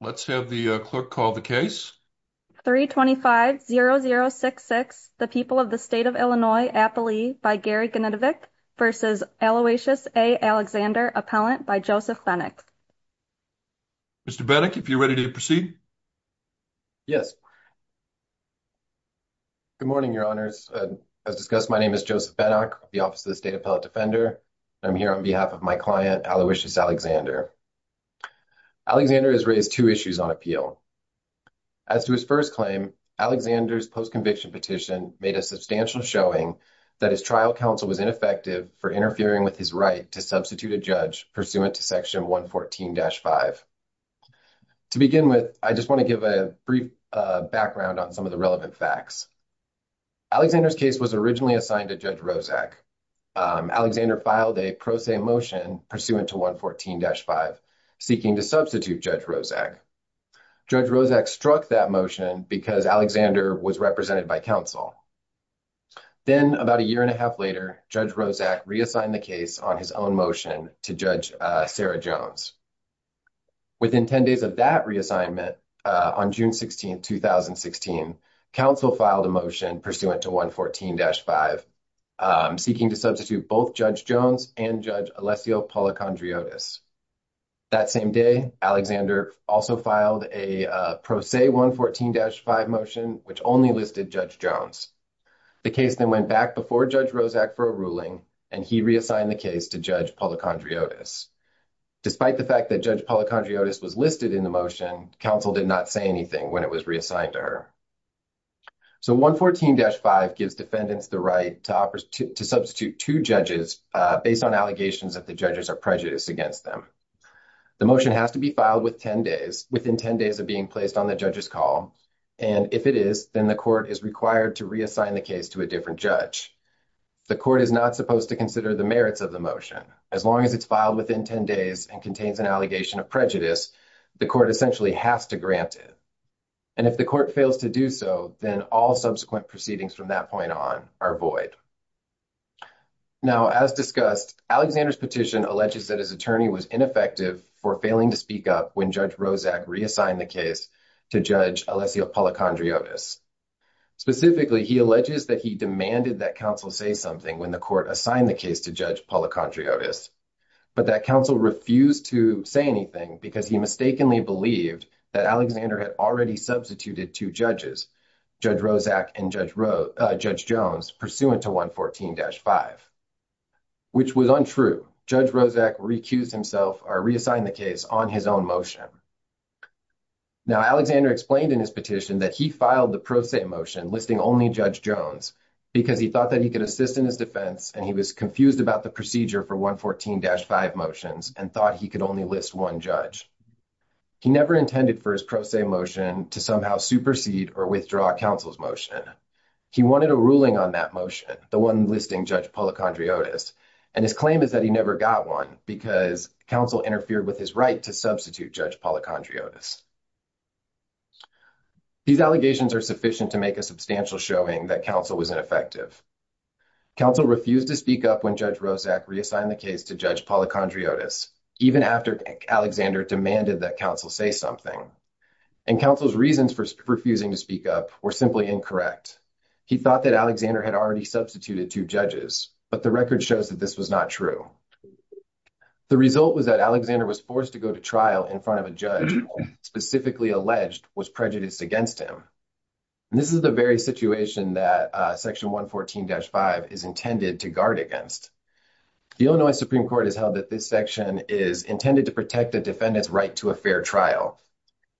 Let's have the clerk call the case. 325-0066, the people of the state of Illinois, Appalachia by Gary Genetovic versus Aloysius A. Alexander, appellant by Joseph Benack. Mr. Benack, if you're ready to proceed. Yes. Good morning, your honors. As discussed, my name is Joseph Benack, the office of the state appellate defender. I'm here on behalf of my client, Aloysius Alexander. Alexander has raised two issues on appeal. As to his first claim, Alexander's post-conviction petition made a substantial showing that his trial counsel was ineffective for interfering with his right to substitute a judge pursuant to section 114-5. To begin with, I just want to give a brief background on some of the relevant facts. Alexander's case was originally assigned to Judge Roszak on 114-5, seeking to substitute Judge Roszak. Judge Roszak struck that motion because Alexander was represented by counsel. Then, about a year and a half later, Judge Roszak reassigned the case on his own motion to Judge Sarah Jones. Within 10 days of that reassignment, on June 16, 2016, counsel filed a motion pursuant to 114-5, seeking to substitute both Judge Jones and Judge Alessio Policondriotis. That same day, Alexander also filed a Pro Se 114-5 motion, which only listed Judge Jones. The case then went back before Judge Roszak for a ruling, and he reassigned the case to Judge Policondriotis. Despite the fact that Judge Policondriotis was listed in the motion, counsel did not say anything when it was reassigned to her. So 114-5 gives defendants the right to substitute two judges based on allegations that the judges are prejudiced against them. The motion has to be filed within 10 days of being placed on the judge's call, and if it is, then the court is required to reassign the case to a different judge. The court is not supposed to consider the merits of the motion. As long as it's filed within 10 days and contains an allegation of prejudice, the court essentially has to grant it. And if court fails to do so, then all subsequent proceedings from that point on are void. Now, as discussed, Alexander's petition alleges that his attorney was ineffective for failing to speak up when Judge Roszak reassigned the case to Judge Alessio Policondriotis. Specifically, he alleges that he demanded that counsel say something when the court assigned the case to Judge Policondriotis, but that counsel refused to say anything because he mistakenly that Alexander had already substituted two judges, Judge Roszak and Judge Jones, pursuant to 114-5, which was untrue. Judge Roszak recused himself or reassigned the case on his own motion. Now, Alexander explained in his petition that he filed the pro se motion listing only Judge Jones because he thought that he could assist in his defense and he was confused about the procedure for 114-5 motions and thought he could only list one judge. He never intended for his pro se motion to somehow supersede or withdraw counsel's motion. He wanted a ruling on that motion, the one listing Judge Policondriotis, and his claim is that he never got one because counsel interfered with his right to substitute Judge Policondriotis. These allegations are sufficient to make a substantial showing that counsel was ineffective. Counsel refused to speak up when Judge Roszak reassigned the case to Judge Policondriotis, even after Alexander demanded that counsel say something, and counsel's reasons for refusing to speak up were simply incorrect. He thought that Alexander had already substituted two judges, but the record shows that this was not true. The result was that Alexander was forced to go to trial in front of a judge who, specifically alleged, was prejudiced against him. This is the very situation that section 114-5 is intended to guard against. The Illinois Supreme Court has held that this section is intended to protect a defendant's right to a fair trial,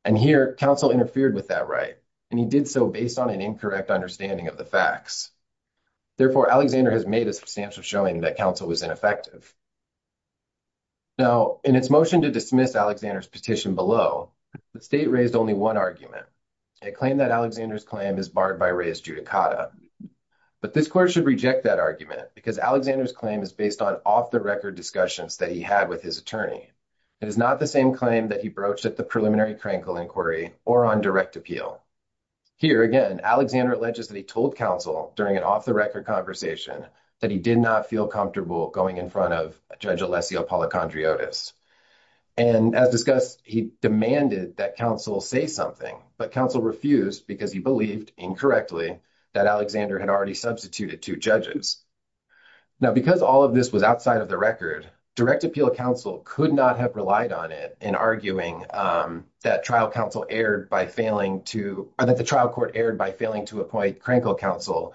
and here counsel interfered with that right, and he did so based on an incorrect understanding of the facts. Therefore, Alexander has made a substantial showing that counsel was ineffective. Now, in its motion to dismiss Alexander's petition below, the state raised only one argument. It claimed that Alexander's claim is barred by reis judicata, but this court should reject that argument because Alexander's claim is based on off-the-record discussions that he had with his attorney. It is not the same claim that he broached at the preliminary Krankel inquiry or on direct appeal. Here, again, Alexander alleges that he told counsel during an off-the-record conversation that he did not feel comfortable going in front of Judge Alessio Policondriotis, and as discussed, he demanded that counsel say something, but counsel refused because he believed, incorrectly, that Alexander had already substituted two judges. Now, because all of this was outside of the record, direct appeal counsel could not have relied on it in arguing that the trial court erred by failing to appoint Krankel counsel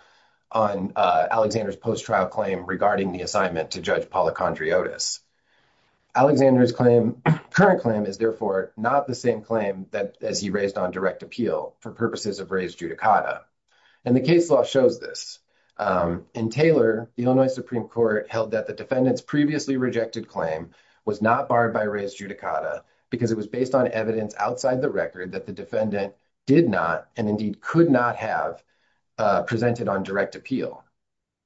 on Alexander's post-trial claim regarding the assignment to Judge Policondriotis. Alexander's claim, current claim, is therefore not the same claim that as he raised on direct appeal for purposes of reis judicata, and the case law shows this. In Taylor, the Illinois Supreme Court held that the defendant's previously rejected claim was not barred by reis judicata because it was based on evidence outside the record that the defendant did not and indeed could not have presented on direct appeal.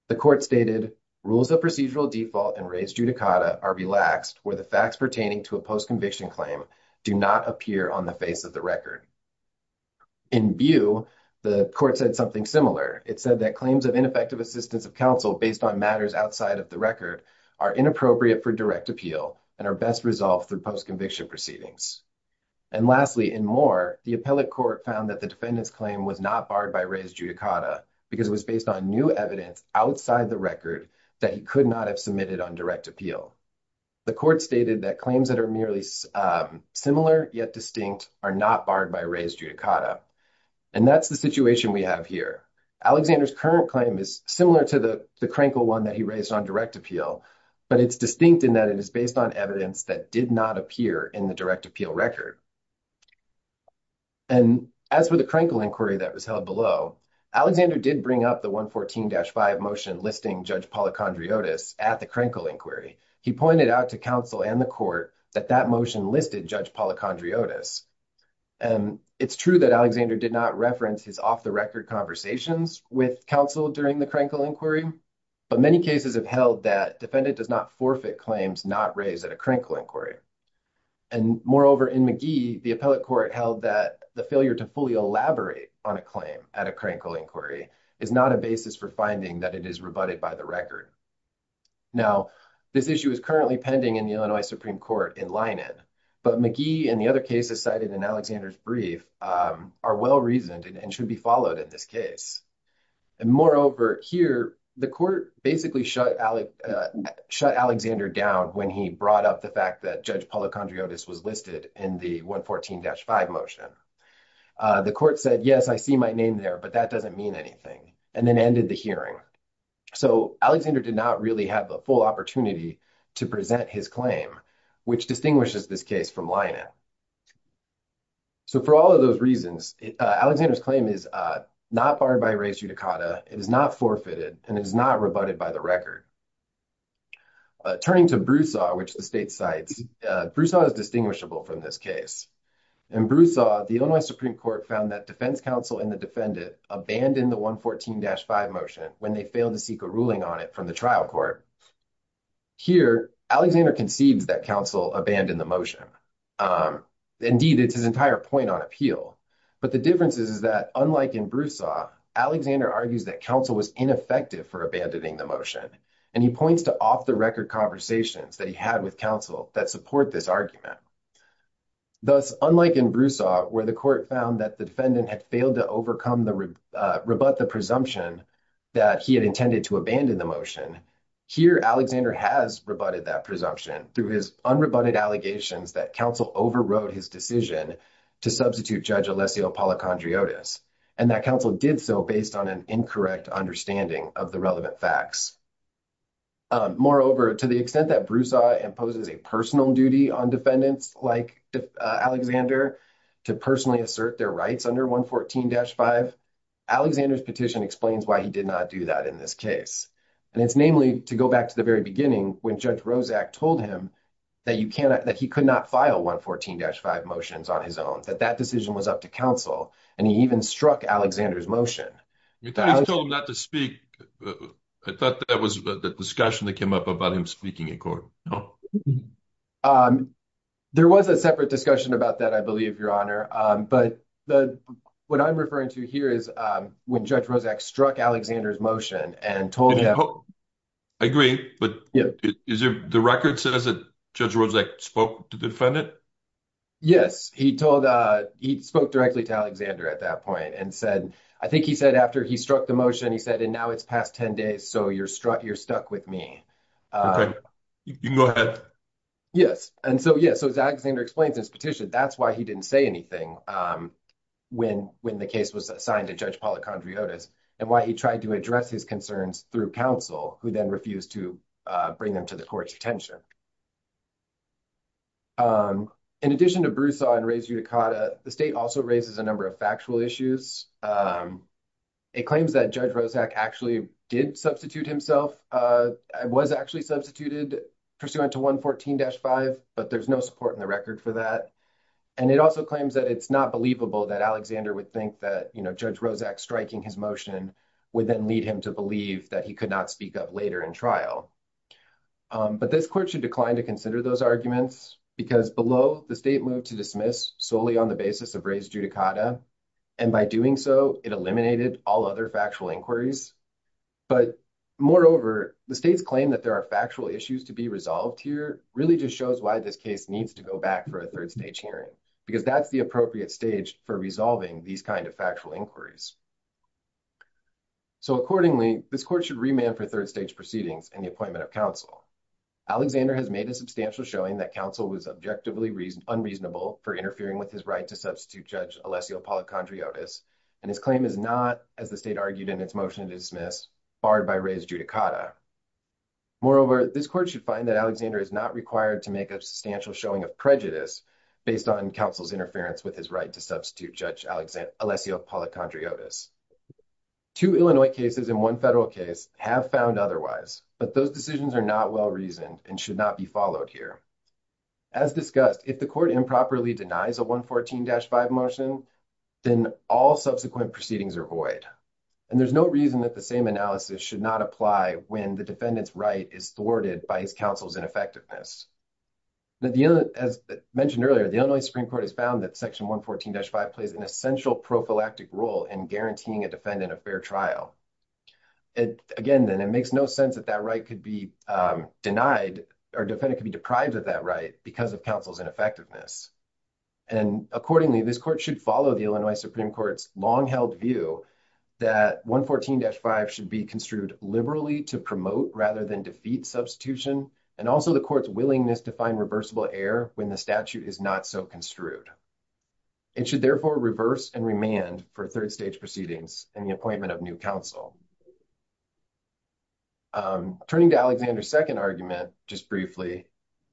The court stated, rules of procedural default and reis judicata are relaxed where the facts pertaining to a post-conviction claim do not appear on the face of the record. In Bew, the court said something similar. It said that claims of ineffective assistance of counsel based on matters outside of the record are inappropriate for direct appeal and are best resolved through post-conviction proceedings. And lastly, in Moore, the appellate court found that the defendant's claim was not barred by reis judicata because it was based on evidence outside the record that he could not have submitted on direct appeal. The court stated that claims that are merely similar yet distinct are not barred by reis judicata, and that's the situation we have here. Alexander's current claim is similar to the Krenkel one that he raised on direct appeal, but it's distinct in that it is based on evidence that did not appear in the direct appeal record. And as for the Krenkel inquiry that was held below, Alexander did bring up the 114-5 motion listing Judge Policondriotis at the Krenkel inquiry. He pointed out to counsel and the court that that motion listed Judge Policondriotis, and it's true that Alexander did not reference his off-the-record conversations with counsel during the Krenkel inquiry, but many cases have held that defendant does not forfeit claims not raised at a Krenkel inquiry. And moreover in McGee, the appellate court held that the failure to fully elaborate on a claim at a Krenkel inquiry is not a basis for finding that it is rebutted by the record. Now, this issue is currently pending in the Illinois Supreme Court in Linen, but McGee and the other cases cited in Alexander's brief are well-reasoned and should be followed in this case. And moreover here, the court basically shut Alexander down when he brought up the fact that Judge Policondriotis was listed in the 114-5 motion. The court said, yes, I see my name there, but that doesn't mean anything, and then ended the hearing. So Alexander did not really have a full opportunity to present his claim, which distinguishes this case from Linen. So for all of those reasons, Alexander's claim is not barred by res judicata, it is not forfeited, and it is not rebutted by the record. Turning to Broussard, which the state cites, Broussard is distinguishable from this case. In Broussard, the Illinois Supreme Court found that defense counsel and the defendant abandoned the 114-5 motion when they failed to seek a ruling on it from the trial court. Here, Alexander concedes that counsel abandoned the motion. Indeed, it's his entire point on appeal. But the difference is that, unlike in Broussard, Alexander argues that counsel was ineffective for abandoning the motion, and he points to off-the-record conversations that he had with counsel that support this argument. Thus, unlike in Broussard, where the court found that the defendant had failed to overcome the, rebut the presumption that he had intended to abandon the motion, here Alexander has rebutted that presumption through his unrebutted allegations that counsel overrode his decision to substitute Judge Alessio Policondriotis, and that counsel did so based on an incorrect understanding of the relevant facts. Moreover, to the extent that Broussard imposes a personal duty on defendants, like Alexander, to personally assert their rights under 114-5, Alexander's petition explains why he did not do that in this case. And it's namely to go back to the very beginning when Judge Rozak told him that you cannot, that he could not file 114-5 motions on his own, that that decision was up to counsel, and he even struck Alexander's motion. You told him not to speak. I thought that was the discussion that came up about him speaking in court. No. There was a separate discussion about that, I believe, Your Honor, but the, what I'm referring to here is when Judge Rozak struck Alexander's motion and told him. I agree, but is there, the record says that Judge Rozak spoke to the defendant? Yes, he told, he spoke directly to Alexander at that point and said, I think he said after he struck the motion, he said, and now it's past 10 days, so you're stuck with me. Okay, you can go ahead. Yes, and so, yeah, so as Alexander explains in his petition, that's why he didn't say anything when the case was assigned to Judge Policondriotis and why he tried to address his concerns through counsel, who then refused to bring them to the detention. In addition to Broussard and Reyes-Uticada, the state also raises a number of factual issues. It claims that Judge Rozak actually did substitute himself, was actually substituted pursuant to 114-5, but there's no support in the record for that, and it also claims that it's not believable that Alexander would think that, you know, Judge Rozak striking his would then lead him to believe that he could not speak up later in trial. But this court should decline to consider those arguments because below, the state moved to dismiss solely on the basis of Reyes-Uticada, and by doing so, it eliminated all other factual inquiries. But moreover, the state's claim that there are factual issues to be resolved here really just shows why this case needs to go back for a third stage hearing, because that's the appropriate stage for resolving these kind of factual inquiries. So accordingly, this court should remand for third stage proceedings and the appointment of counsel. Alexander has made a substantial showing that counsel was objectively unreasonable for interfering with his right to substitute Judge Alessio Policondriotis, and his claim is not, as the state argued in its motion to dismiss, barred by Reyes-Uticada. Moreover, this court should find that Alexander is not required to make a substantial showing of prejudice based on counsel's interference with his right to substitute Judge Alessio Policondriotis. Two Illinois cases and one federal case have found otherwise, but those decisions are not well-reasoned and should not be followed here. As discussed, if the court improperly denies a 114-5 motion, then all subsequent proceedings are void, and there's no reason that the same analysis should not apply when the defendant's right is thwarted by his counsel's ineffectiveness. As mentioned earlier, the Illinois Supreme Court has found that Section 114-5 plays an essential prophylactic role in guaranteeing a defendant a fair trial. Again, then, it makes no sense that that right could be denied or defendant could be deprived of that right because of counsel's ineffectiveness. And accordingly, this court should follow the Illinois Supreme Court's long-held view that 114-5 should be construed liberally to promote rather than defeat substitution, and also the court's willingness to find reversible error when the statute is not so construed. It should, therefore, reverse and remand for third-stage proceedings in the appointment of new counsel. Turning to Alexander's second argument just briefly,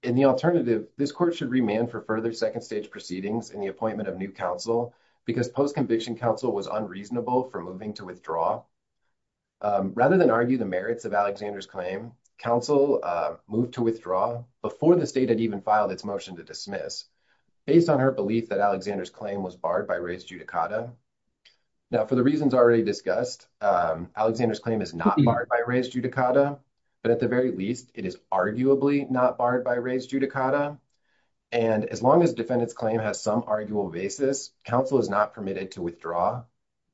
in the alternative, this court should remand for further second-stage proceedings in the appointment of new counsel because post-conviction counsel was unreasonable for moving to withdraw. Rather than argue the merits of Alexander's claim, counsel moved to withdraw before the state had filed its motion to dismiss, based on her belief that Alexander's claim was barred by res judicata. Now, for the reasons already discussed, Alexander's claim is not barred by res judicata, but at the very least, it is arguably not barred by res judicata. And as long as defendant's claim has some arguable basis, counsel is not permitted to withdraw.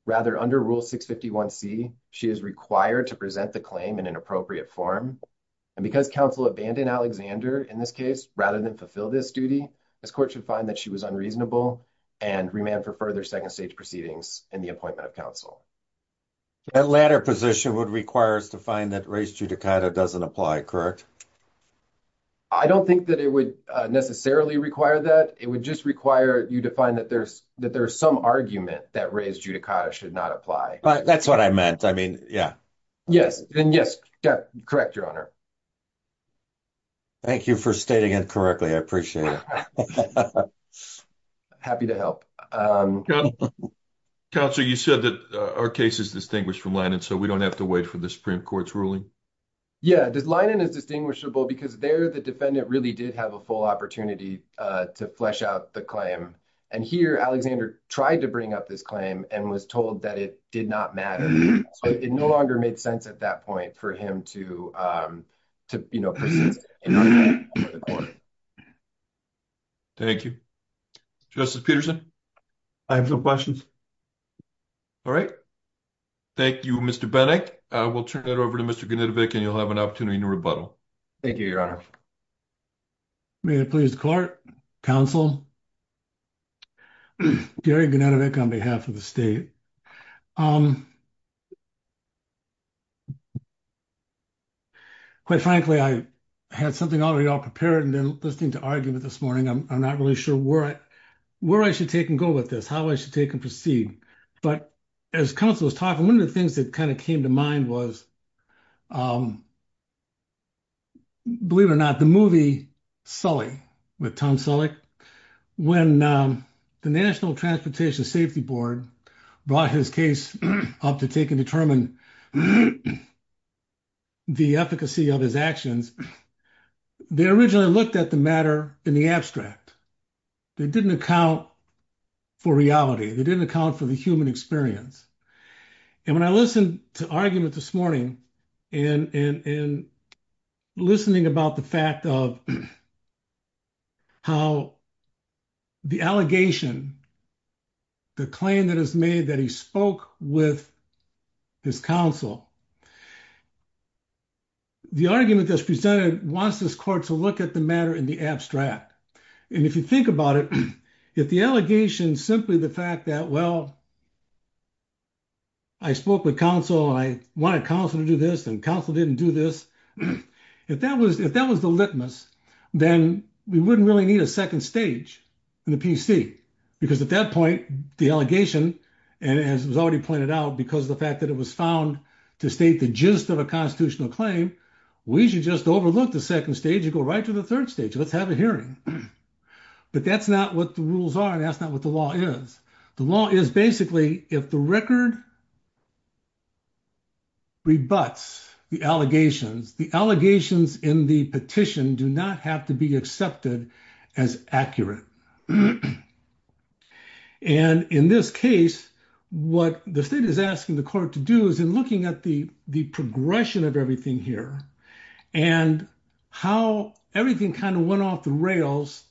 Rather, under Rule 651c, she is required to present the claim in an appropriate form. And because counsel abandoned Alexander in this case rather than fulfill this duty, this court should find that she was unreasonable and remand for further second-stage proceedings in the appointment of counsel. That latter position would require us to find that res judicata doesn't apply, correct? I don't think that it would necessarily require that. It would just require you to find that there's some argument that res judicata should not apply. That's what I meant. I mean, yeah. Yes. And yes, correct, Your Honor. Thank you for stating it correctly. I appreciate it. Happy to help. Counsel, you said that our case is distinguished from Linen, so we don't have to wait for the Supreme Court's ruling? Yeah, Linen is distinguishable because there, the defendant really did have a full opportunity to flesh out the claim. And here, Alexander tried to bring up this claim and was told that it did not matter. So it no longer made sense at that point for him to, you know, present it. Thank you. Justice Peterson. I have no questions. All right. Thank you, Mr. Benek. I will turn it over to Mr. Gunitevic, and you'll have an opportunity to rebuttal. Thank you, Your Honor. May it please the Court, Counsel, Gary Gunitevic on behalf of the state. Quite frankly, I had something already all prepared and then listening to argument this morning. I'm not really sure where I should take and go with this, how I should take and proceed. But as Counsel was talking, one of the things that kind of came to mind was, believe it or not, the movie Sully with Tom Selleck. When the National Transportation Safety Board brought his case up to take and determine the efficacy of his actions, they originally looked at the matter in the abstract. They didn't account for reality. They didn't account for the in listening about the fact of how the allegation, the claim that is made that he spoke with his counsel, the argument that's presented wants this Court to look at the matter in the abstract. And if you think about it, if the allegation is simply the fact that, well, I spoke with counsel and I wanted counsel to do this and counsel didn't do this. If that was the litmus, then we wouldn't really need a second stage in the PC. Because at that point, the allegation, and as was already pointed out, because of the fact that it was found to state the gist of a constitutional claim, we should just overlook the second stage and go right to the third stage. Let's have a hearing. But that's not what the rules are. And that's record rebuts the allegations. The allegations in the petition do not have to be accepted as accurate. And in this case, what the state is asking the Court to do is in looking at the progression of everything here, and how everything kind of went off the rails,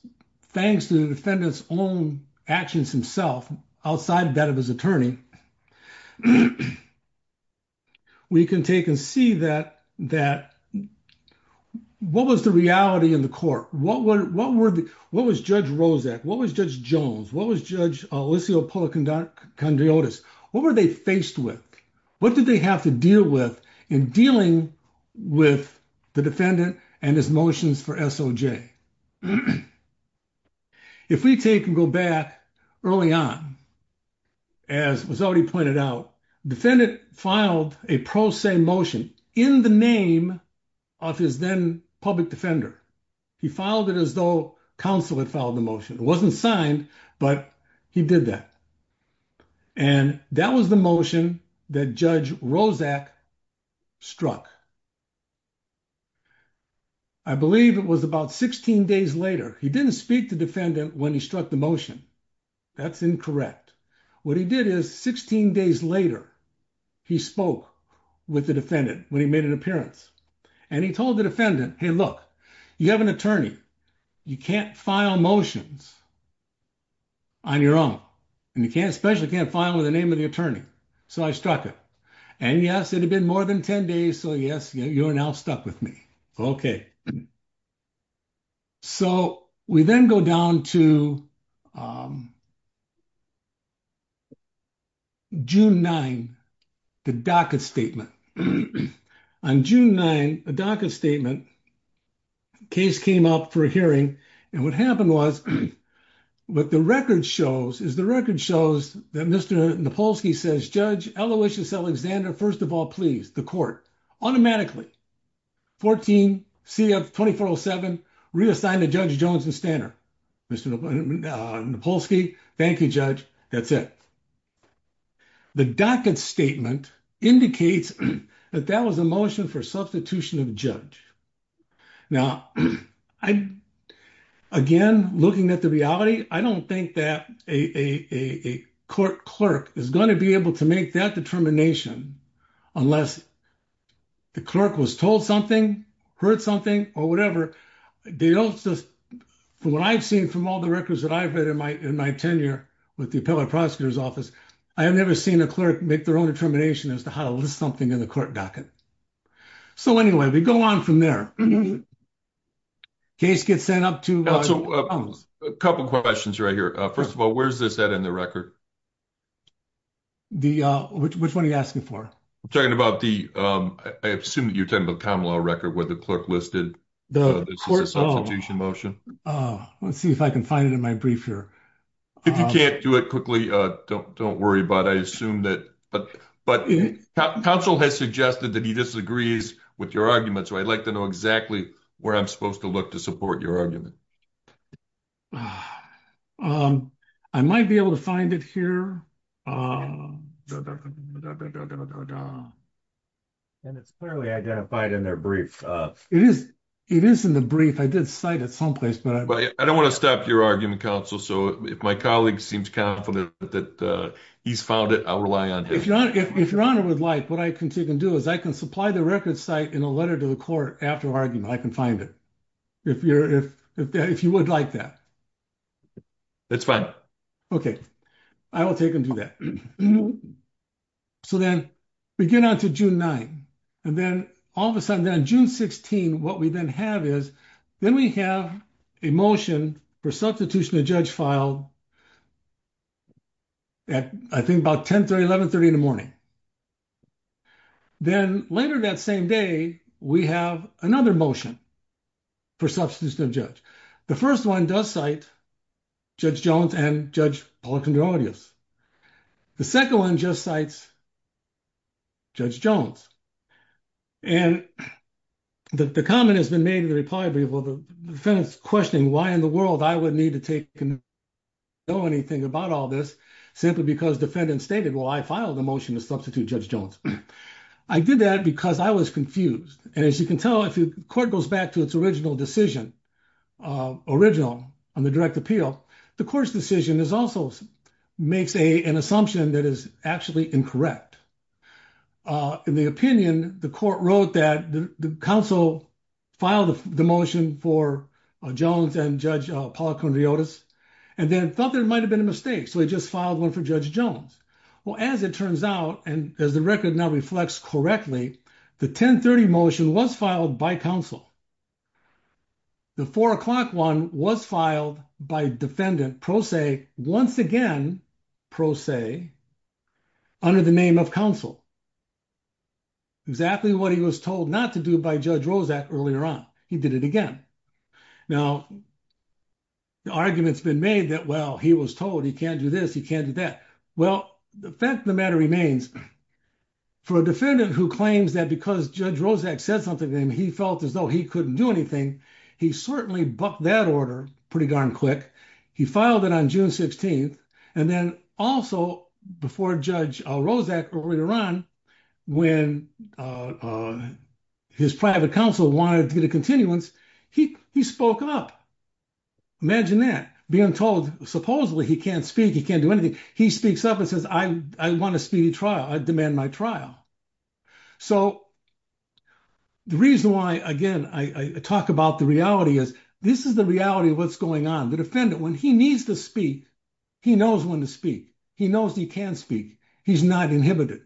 thanks to the defendant's own actions himself, outside that of his attorney, we can take and see that, what was the reality in the Court? What was Judge Rozak? What was Judge Jones? What was Judge Alicio Policondiotis? What were they faced with? What did they have to deal with in dealing with the defendant and his motions for SOJ? If we take and go back early on, as was already pointed out, defendant filed a pro se motion in the name of his then public defender. He filed it as though counsel had filed the motion. It wasn't signed, but he did that. And that was the motion that Judge Rozak struck. I believe it was about 16 days later. He didn't speak to defendant when he struck the motion. That's incorrect. What he did is 16 days later, he spoke with the defendant when he made an appearance. And he told the defendant, hey, look, you have an attorney, you can't file motions on your own. And you can't especially can't file in the name of the attorney. So I struck it. And yes, it had been more than 10 days. So yes, you're now stuck with me. Okay. So we then go down to June 9, the docket statement. On June 9, the docket statement, case came up for hearing. And what happened was, what the record shows is the record shows that Mr. Nopolsky says, Judge Aloysius Alexander, first of all, please, the court automatically 14 CF-2407 reassign to Judge Jones and Stanner. Mr. Nopolsky, thank you, judge. That's it. The docket statement indicates that that was a motion for substitution of judge. Now, again, looking at the reality, I don't think that a court clerk is going to be able to make that determination unless the clerk was told something, heard something or whatever. From what I've seen from all the records that I've read in my tenure with the appellate prosecutor's office, I have never seen a clerk make their own determination as to how to list something in the court docket. So anyway, we go on from there. Case gets sent up to- Now, so a couple of questions right here. First of all, where's this at in the record? Which one are you asking for? I'm talking about the, I assume that you're talking about the common law record where the clerk listed the substitution motion. Let's see if I can find it in my brief here. If you can't do it quickly, don't worry about it. I assume that- But counsel has suggested that he disagrees with your argument, so I'd like to know exactly where I'm supposed to look to support your argument. I might be able to find it here. And it's clearly identified in their brief. It is in the brief. I did cite it someplace, but- I don't want to stop your argument, counsel, so if my colleague seems confident that he's found it, I'll rely on him. If your honor would like, what I can do is I can supply the record site in a letter to the court after argument. I can find it if you would like that. That's fine. Okay. I will take him to that. So then we get on to June 9th, and then all of a sudden on June 16th, what we then have is, then we have a motion for substitution of judge file at, I think, about 10 30, 11 30 in the morning. Then later that same day, we have another motion for substitution of judge. The first one does cite Judge Jones and Judge Policandronidis. The second one just cites Judge Jones. And the comment has been made in the reply brief, well, the defendant's questioning why in the world I would need to take- know anything about all this simply because defendant stated, well, I filed a motion to substitute Judge Jones. I did that because I was confused. And as you can tell, if the court goes back to its original decision, original on the direct appeal, the court's decision is also- makes an assumption that is actually incorrect. In the opinion, the court wrote that the counsel filed the motion for Jones and Judge Policandronidis, and then thought there might have been a mistake. So they just filed one for Judge Jones. Well, as it turns out, and as the record now reflects correctly, the 10 30 motion was filed by counsel. The four o'clock one was filed by defendant pro se once again, pro se, under the name of counsel. Exactly what he was told not to do by Judge Roszak earlier on. He did it again. Now, the argument's been made that, well, he was told he can't do this, he can't do that. Well, the fact of the matter remains, for a defendant who claims that because Judge Roszak said something to him, he felt as though he couldn't do anything. He certainly bucked that order pretty darn quick. He filed it on June 16th, and then also before Judge Roszak earlier on, when his private counsel wanted to get a continuance, he spoke up. Imagine that, being told supposedly he can't speak, he can't do anything. He speaks up and says, I want a speedy trial. I demand my trial. So the reason why, again, I talk about the reality is, this is the reality of what's going on. The defendant, when he needs to speak, he knows when to speak. He knows he can speak. He's not inhibited.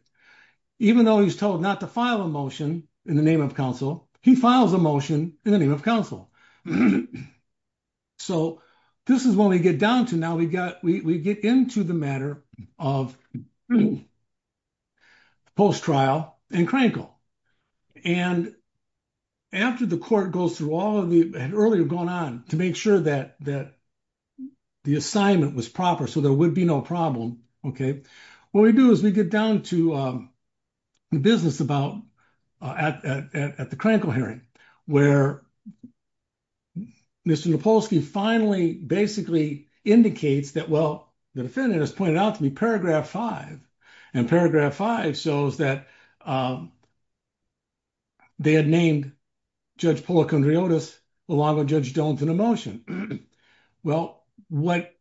Even though he's told not to file a motion in the name of counsel, he files a motion in the name of counsel. So this is what we get down to now. We get into the matter of post-trial and Krankle. And after the court goes through all of the earlier going on to make sure that the assignment was proper, so there would be no problem, what we do is we get down to the business at the Krankle hearing, where Mr. Napolsky finally basically indicates that, well, the defendant has pointed out to me paragraph five. And paragraph five shows that they had named Judge Policondriotis along with Judge Dillington a motion. Well, what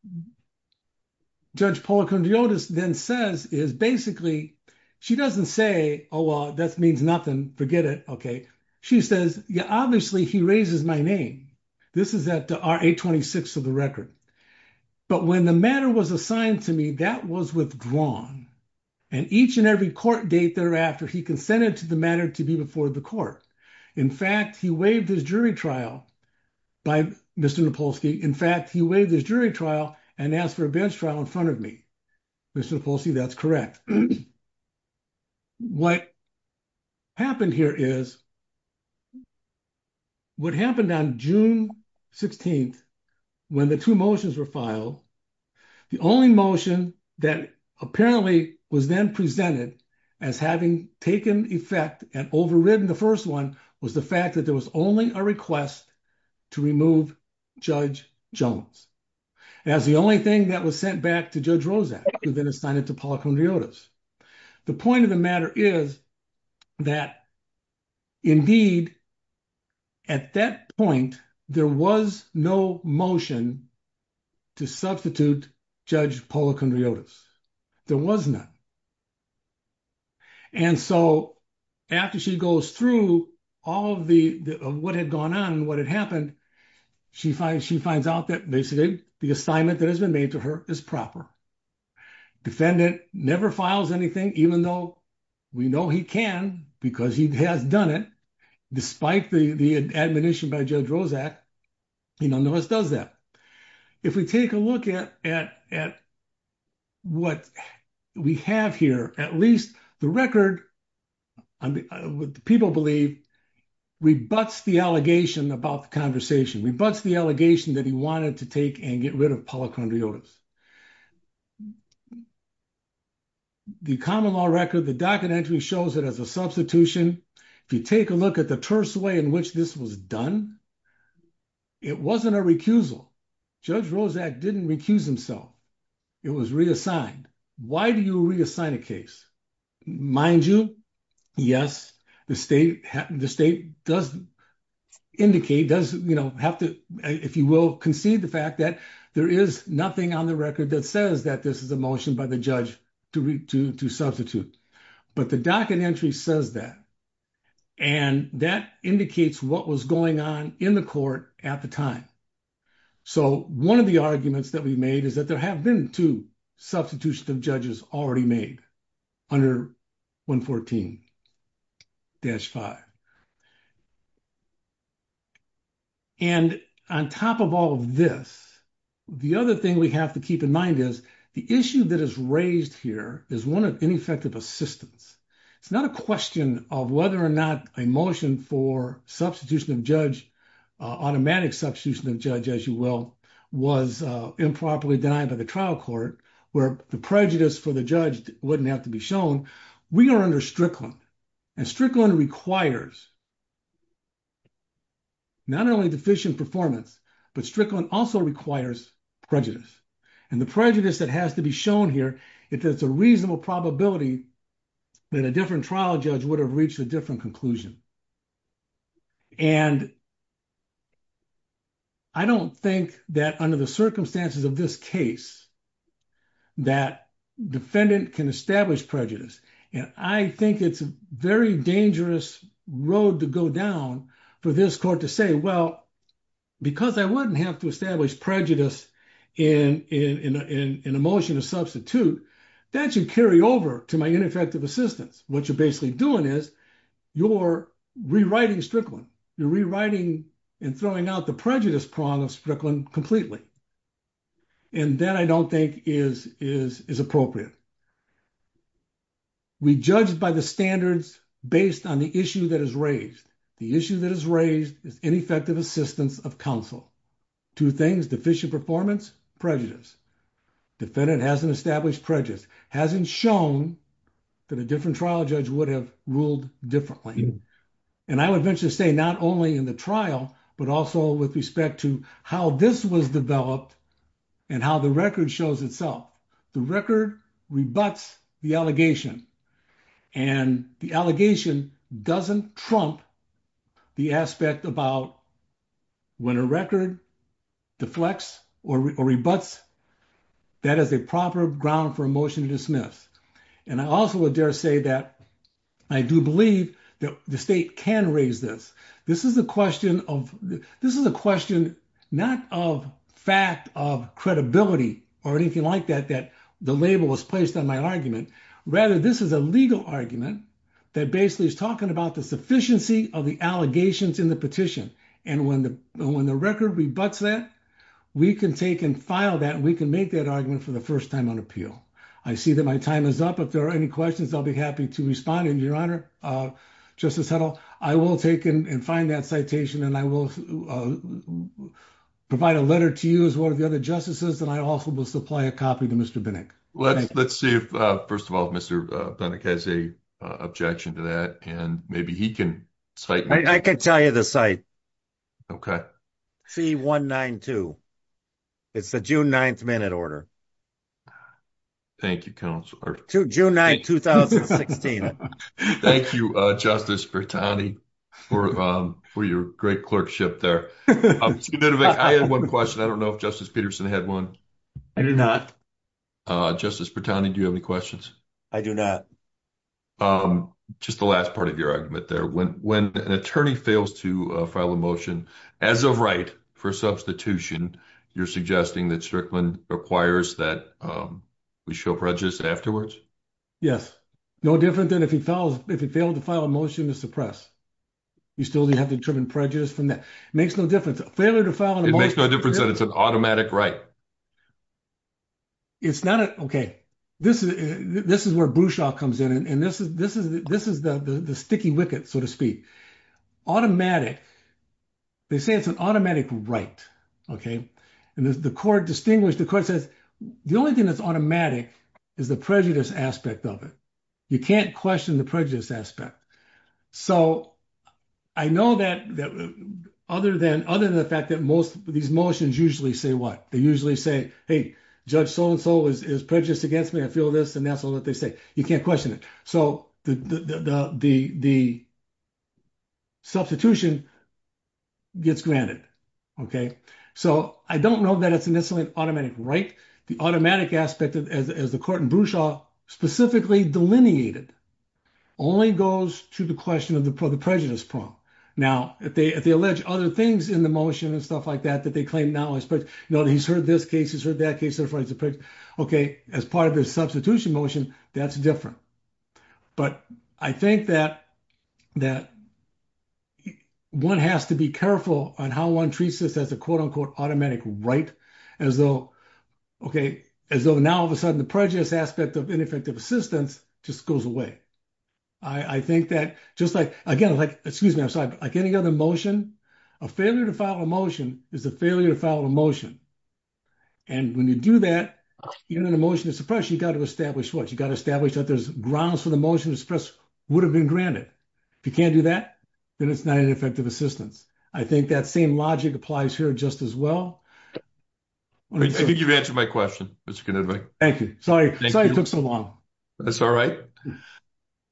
Judge Policondriotis then says is basically, she doesn't say, oh, well, that means nothing. Forget it. Okay. She says, yeah, obviously he raises my name. This is at 826 of the record. But when the matter was assigned to me, that was withdrawn. And each and every court date thereafter, he consented to the matter to be before the court. In fact, he waived his jury trial by Mr. Napolsky. In fact, he waived his jury trial and asked for a bench trial in front of me. Mr. Napolsky, that's correct. What happened here is what happened on June 16th, when the two motions were filed, the only motion that apparently was then presented as having taken effect and overridden the first one was the fact that there was only a request to remove Judge Jones as the only thing that was sent back to Judge Rozak and then assigned it to Policondriotis. The point of the matter is that, indeed, at that point, there was no motion to substitute Judge Policondriotis. There was none. And so after she goes through all of what had gone on and what had happened, she finds out that basically the assignment that has been made to her is proper. Defendant never files anything, even though we know he can because he has done it, despite the admonition by Judge Rozak. He nonetheless does that. If we take a look at what we have here, at least the record, people believe, rebuts the allegation about the conversation, rebuts the allegation that he wanted to take and get rid of Policondriotis. The common law record, the docket entry shows it as a substitution. If you take a look at the terse way in which this was done, it wasn't a recusal. Judge Rozak didn't recuse himself. It was reassigned. Why do you reassign a case? Mind you, yes, the state does indicate, does, you know, have to, if you will, concede the fact that there is nothing on the record that says that this is a motion by the judge to substitute. But the docket entry says that. And that indicates what was going on in the court at the time. So one of the arguments that we made is that there have been two substitutions of judges already made under 114-5. And on top of all of this, the other thing we have to keep in mind is the issue that is raised here is one of ineffective assistance. It's not a question of whether or not a motion for substitution of judge, automatic substitution of judge, as you will, was improperly denied by the trial court, where the prejudice for the judge wouldn't have to be shown. We are under Strickland. And Strickland requires not only deficient performance, but Strickland also requires prejudice. And the prejudice that has to be shown here, if there's a reasonable probability that a different trial judge would have reached a different conclusion. And I don't think that under the circumstances of this case, that defendant can establish prejudice. And I think it's a very dangerous road to go down for this court to say, well, because I wouldn't have to establish prejudice in a motion of substitute, that should carry over to my ineffective assistance. What you're basically doing is you're rewriting Strickland. You're rewriting and throwing out the prejudice prong of Strickland completely. And that I don't think is appropriate. We judged by the standards based on the issue that is raised. The issue that is raised is ineffective assistance of counsel. Two things, deficient performance, prejudice. Defendant hasn't established prejudice, hasn't shown that a different trial judge would have ruled differently. And I would venture to say not only in the trial, but also with respect to how this was developed and how the record shows itself. The record rebuts the allegation. And the allegation doesn't trump the aspect about when a record deflects or rebuts. That is a proper ground for a motion to dismiss. And I also would dare say that I do believe that the state can raise this. This is a question of, this is a question, not of fact of credibility or anything like that, that the label was placed on my argument. Rather, this is a legal argument that basically is talking about the sufficiency of the allegations in the petition. And when the record rebuts that, we can take and file that. We can make that argument for the first time on appeal. I see that my time is up. If there are any questions, I'll be happy to respond. And Your Honor, Justice Huddle, I will take and find that citation and I will provide a letter to you as one of the other justices. And I also will supply a copy to Mr. Binnick. Let's see if, first of all, if Mr. Binnick has a objection to that and maybe he can cite. I can tell you the site. Okay. C-192. It's the June 9th minute order. Thank you, Counselor. June 9th, 2016. Thank you, Justice Bertani for your great clerkship there. I had one question. I don't know if Justice Peterson had one. I do not. Justice Bertani, do you have any questions? I do not. Just the last part of your argument there. When an attorney fails to file a motion as of right for substitution, you're suggesting that Strickland requires that we show prejudice afterwards? Yes. No different than if he failed to file a motion to suppress. You still have to determine prejudice from that. It makes no difference. Failure to file a motion. It makes no difference that it's an automatic right. It's not. Okay. This is where Bruchaw comes in and this is the sticky wicket, so to speak. Automatic. They say it's an automatic right. And the court distinguished, the court says the only thing that's automatic is the prejudice aspect of it. You can't question the prejudice aspect. So I know that other than the fact that most of these motions usually say what? They usually say, hey, Judge So-and-so is prejudiced against me. I feel this and that's all that they say. You can't question it. So the substitution gets granted. So I don't know that it's necessarily an automatic right. The automatic aspect, as the court in Bruchaw specifically delineated, only goes to the question of the prejudice problem. Now, if they allege other things in the motion and stuff like that, that they claim knowledge, but he's heard this case, he's heard that case. Okay. As part of the substitution motion, that's different. But I think that one has to be careful on how one treats this as a quote-unquote automatic right. As though, okay, as though now all of a sudden the prejudice aspect of ineffective assistance just goes away. I think that just like, again, excuse me, I'm sorry. Like any other motion, a failure to file a motion is a failure to file a motion. And when you do that, even in a motion to suppress, you got to establish what? You got to establish that there's grounds for the motion to suppress would have been granted. If you can't do that, then it's not an effective assistance. I think that same logic applies here just as well. I think you've answered my question, Mr. Knudvik. Thank you. Sorry it took so long. That's all right.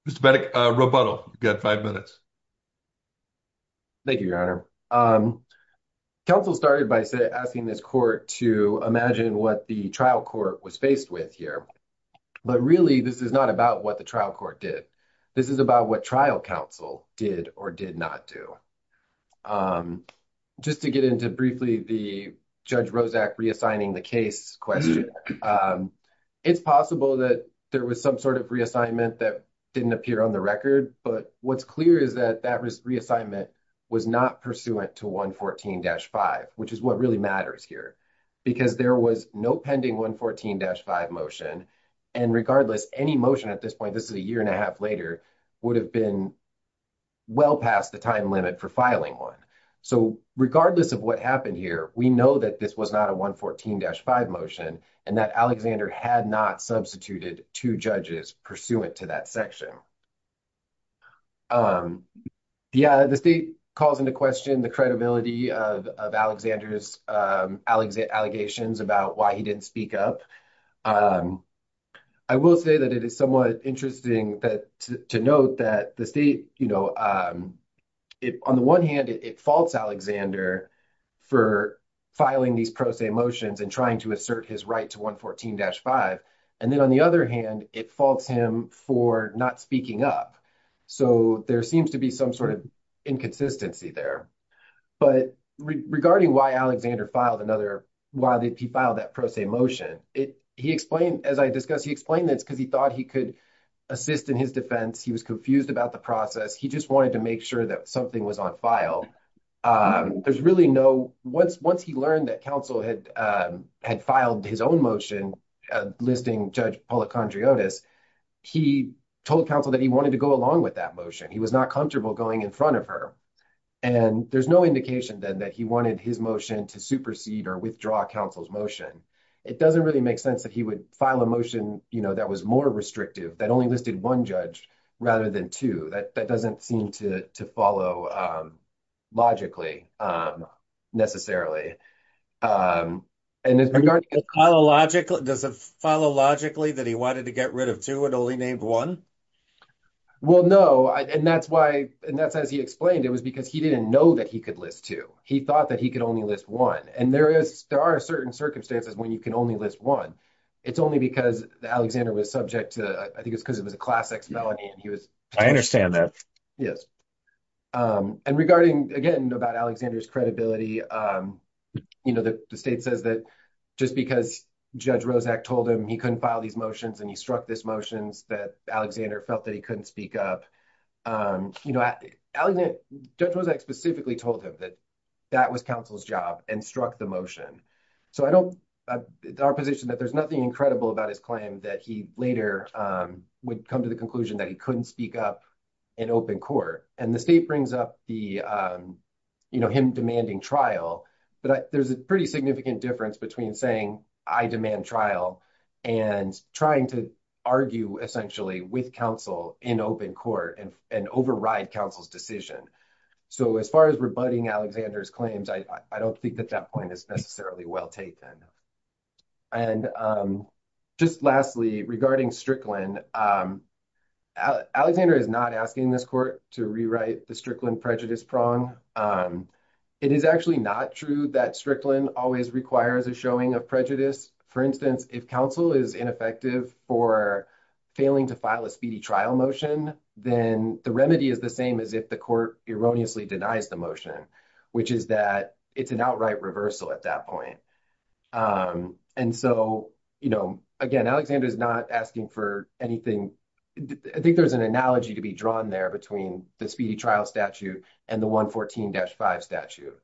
Mr. Roboto, you got five minutes. Thank you, Your Honor. Counsel started by asking this court to imagine what the trial court was faced with here. But really, this is not about what the trial court did. This is about what trial counsel did or did not do. Just to get into briefly the Judge Rozak reassigning the case question. And it's possible that there was some sort of reassignment that didn't appear on the record. But what's clear is that that reassignment was not pursuant to 114-5, which is what really matters here. Because there was no pending 114-5 motion. And regardless, any motion at this point, this is a year and a half later, would have been well past the time limit for filing one. So regardless of what happened here, we know that this was not a 114-5 motion. Alexander had not substituted two judges pursuant to that section. Yeah, the state calls into question the credibility of Alexander's allegations about why he didn't speak up. I will say that it is somewhat interesting to note that the state, on the one hand, it faults Alexander for filing these pro se motions and trying to assert his right to 114-5. And then on the other hand, it faults him for not speaking up. So there seems to be some sort of inconsistency there. But regarding why Alexander filed that pro se motion, as I discussed, he explained that because he thought he could assist in his defense. He was confused about the process. He just wanted to make sure that something was on file. There's really no... Once he learned that counsel had filed his own motion, listing Judge Policandriotis, he told counsel that he wanted to go along with that motion. He was not comfortable going in front of her. And there's no indication then that he wanted his motion to supersede or withdraw counsel's motion. It doesn't really make sense that he would file a motion that was more restrictive, that only listed one judge rather than two. That doesn't seem to follow logically, necessarily. Does it follow logically that he wanted to get rid of two and only named one? Well, no. And that's as he explained, it was because he didn't know that he could list two. He thought that he could only list one. And there are certain circumstances when you can only list one. It's only because Alexander was subject to... I think it's because it was a Class X felony and he was... I understand that. Yes. And regarding, again, about Alexander's credibility, the state says that just because Judge Rozak told him he couldn't file these motions and he struck these motions that Alexander felt that he couldn't speak up. Judge Rozak specifically told him that that was counsel's job and struck the motion. So I don't... Our position that there's nothing incredible about his claim that he later would come to the conclusion that he couldn't speak up in open court. And the state brings up him demanding trial, but there's a pretty significant difference between saying, I demand trial and trying to argue, essentially, with counsel in open court and override counsel's decision. So as far as rebutting Alexander's claims, I don't think that that point is necessarily well taken. And just lastly, regarding Strickland, Alexander is not asking this court to rewrite the Strickland prejudice prong. It is actually not true that Strickland always requires a showing of prejudice. For instance, if counsel is ineffective for failing to file a speedy trial motion, then the remedy is the same as if the court erroneously denies the motion, which is that it's an outright reversal at that point. And so, you know, again, Alexander is not asking for anything. I think there's an analogy to be drawn there between the speedy trial statute and the 114-5 statute.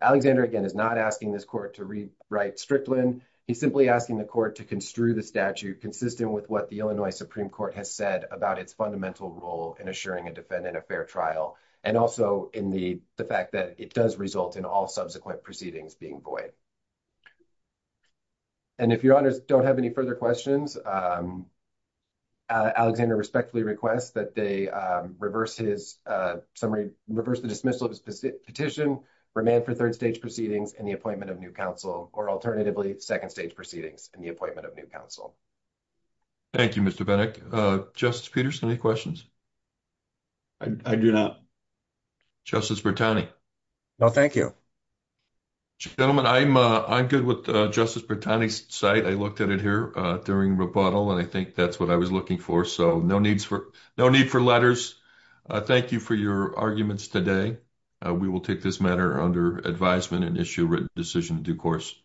Alexander, again, is not asking this court to rewrite Strickland. He's simply asking the court to construe the statute consistent with what the Illinois Supreme Court has said about its fundamental role in assuring a defendant a fair trial and also in the fact that it does result in all subsequent proceedings being void. And if your honors don't have any further questions, Alexander respectfully requests that they reverse his summary, reverse the dismissal of his petition, remand for third-stage proceedings and the appointment of new counsel, or alternatively, second-stage proceedings and the appointment of new counsel. Thank you, Mr. Venick. Justice Peterson, any questions? I do not. Justice Bertani? No, thank you. Gentlemen, I'm good with Justice Bertani's side. I looked at it here during rebuttal, and I think that's what I was looking for. So no need for letters. Thank you for your arguments today. We will take this matter under advisement and issue a written decision in due course.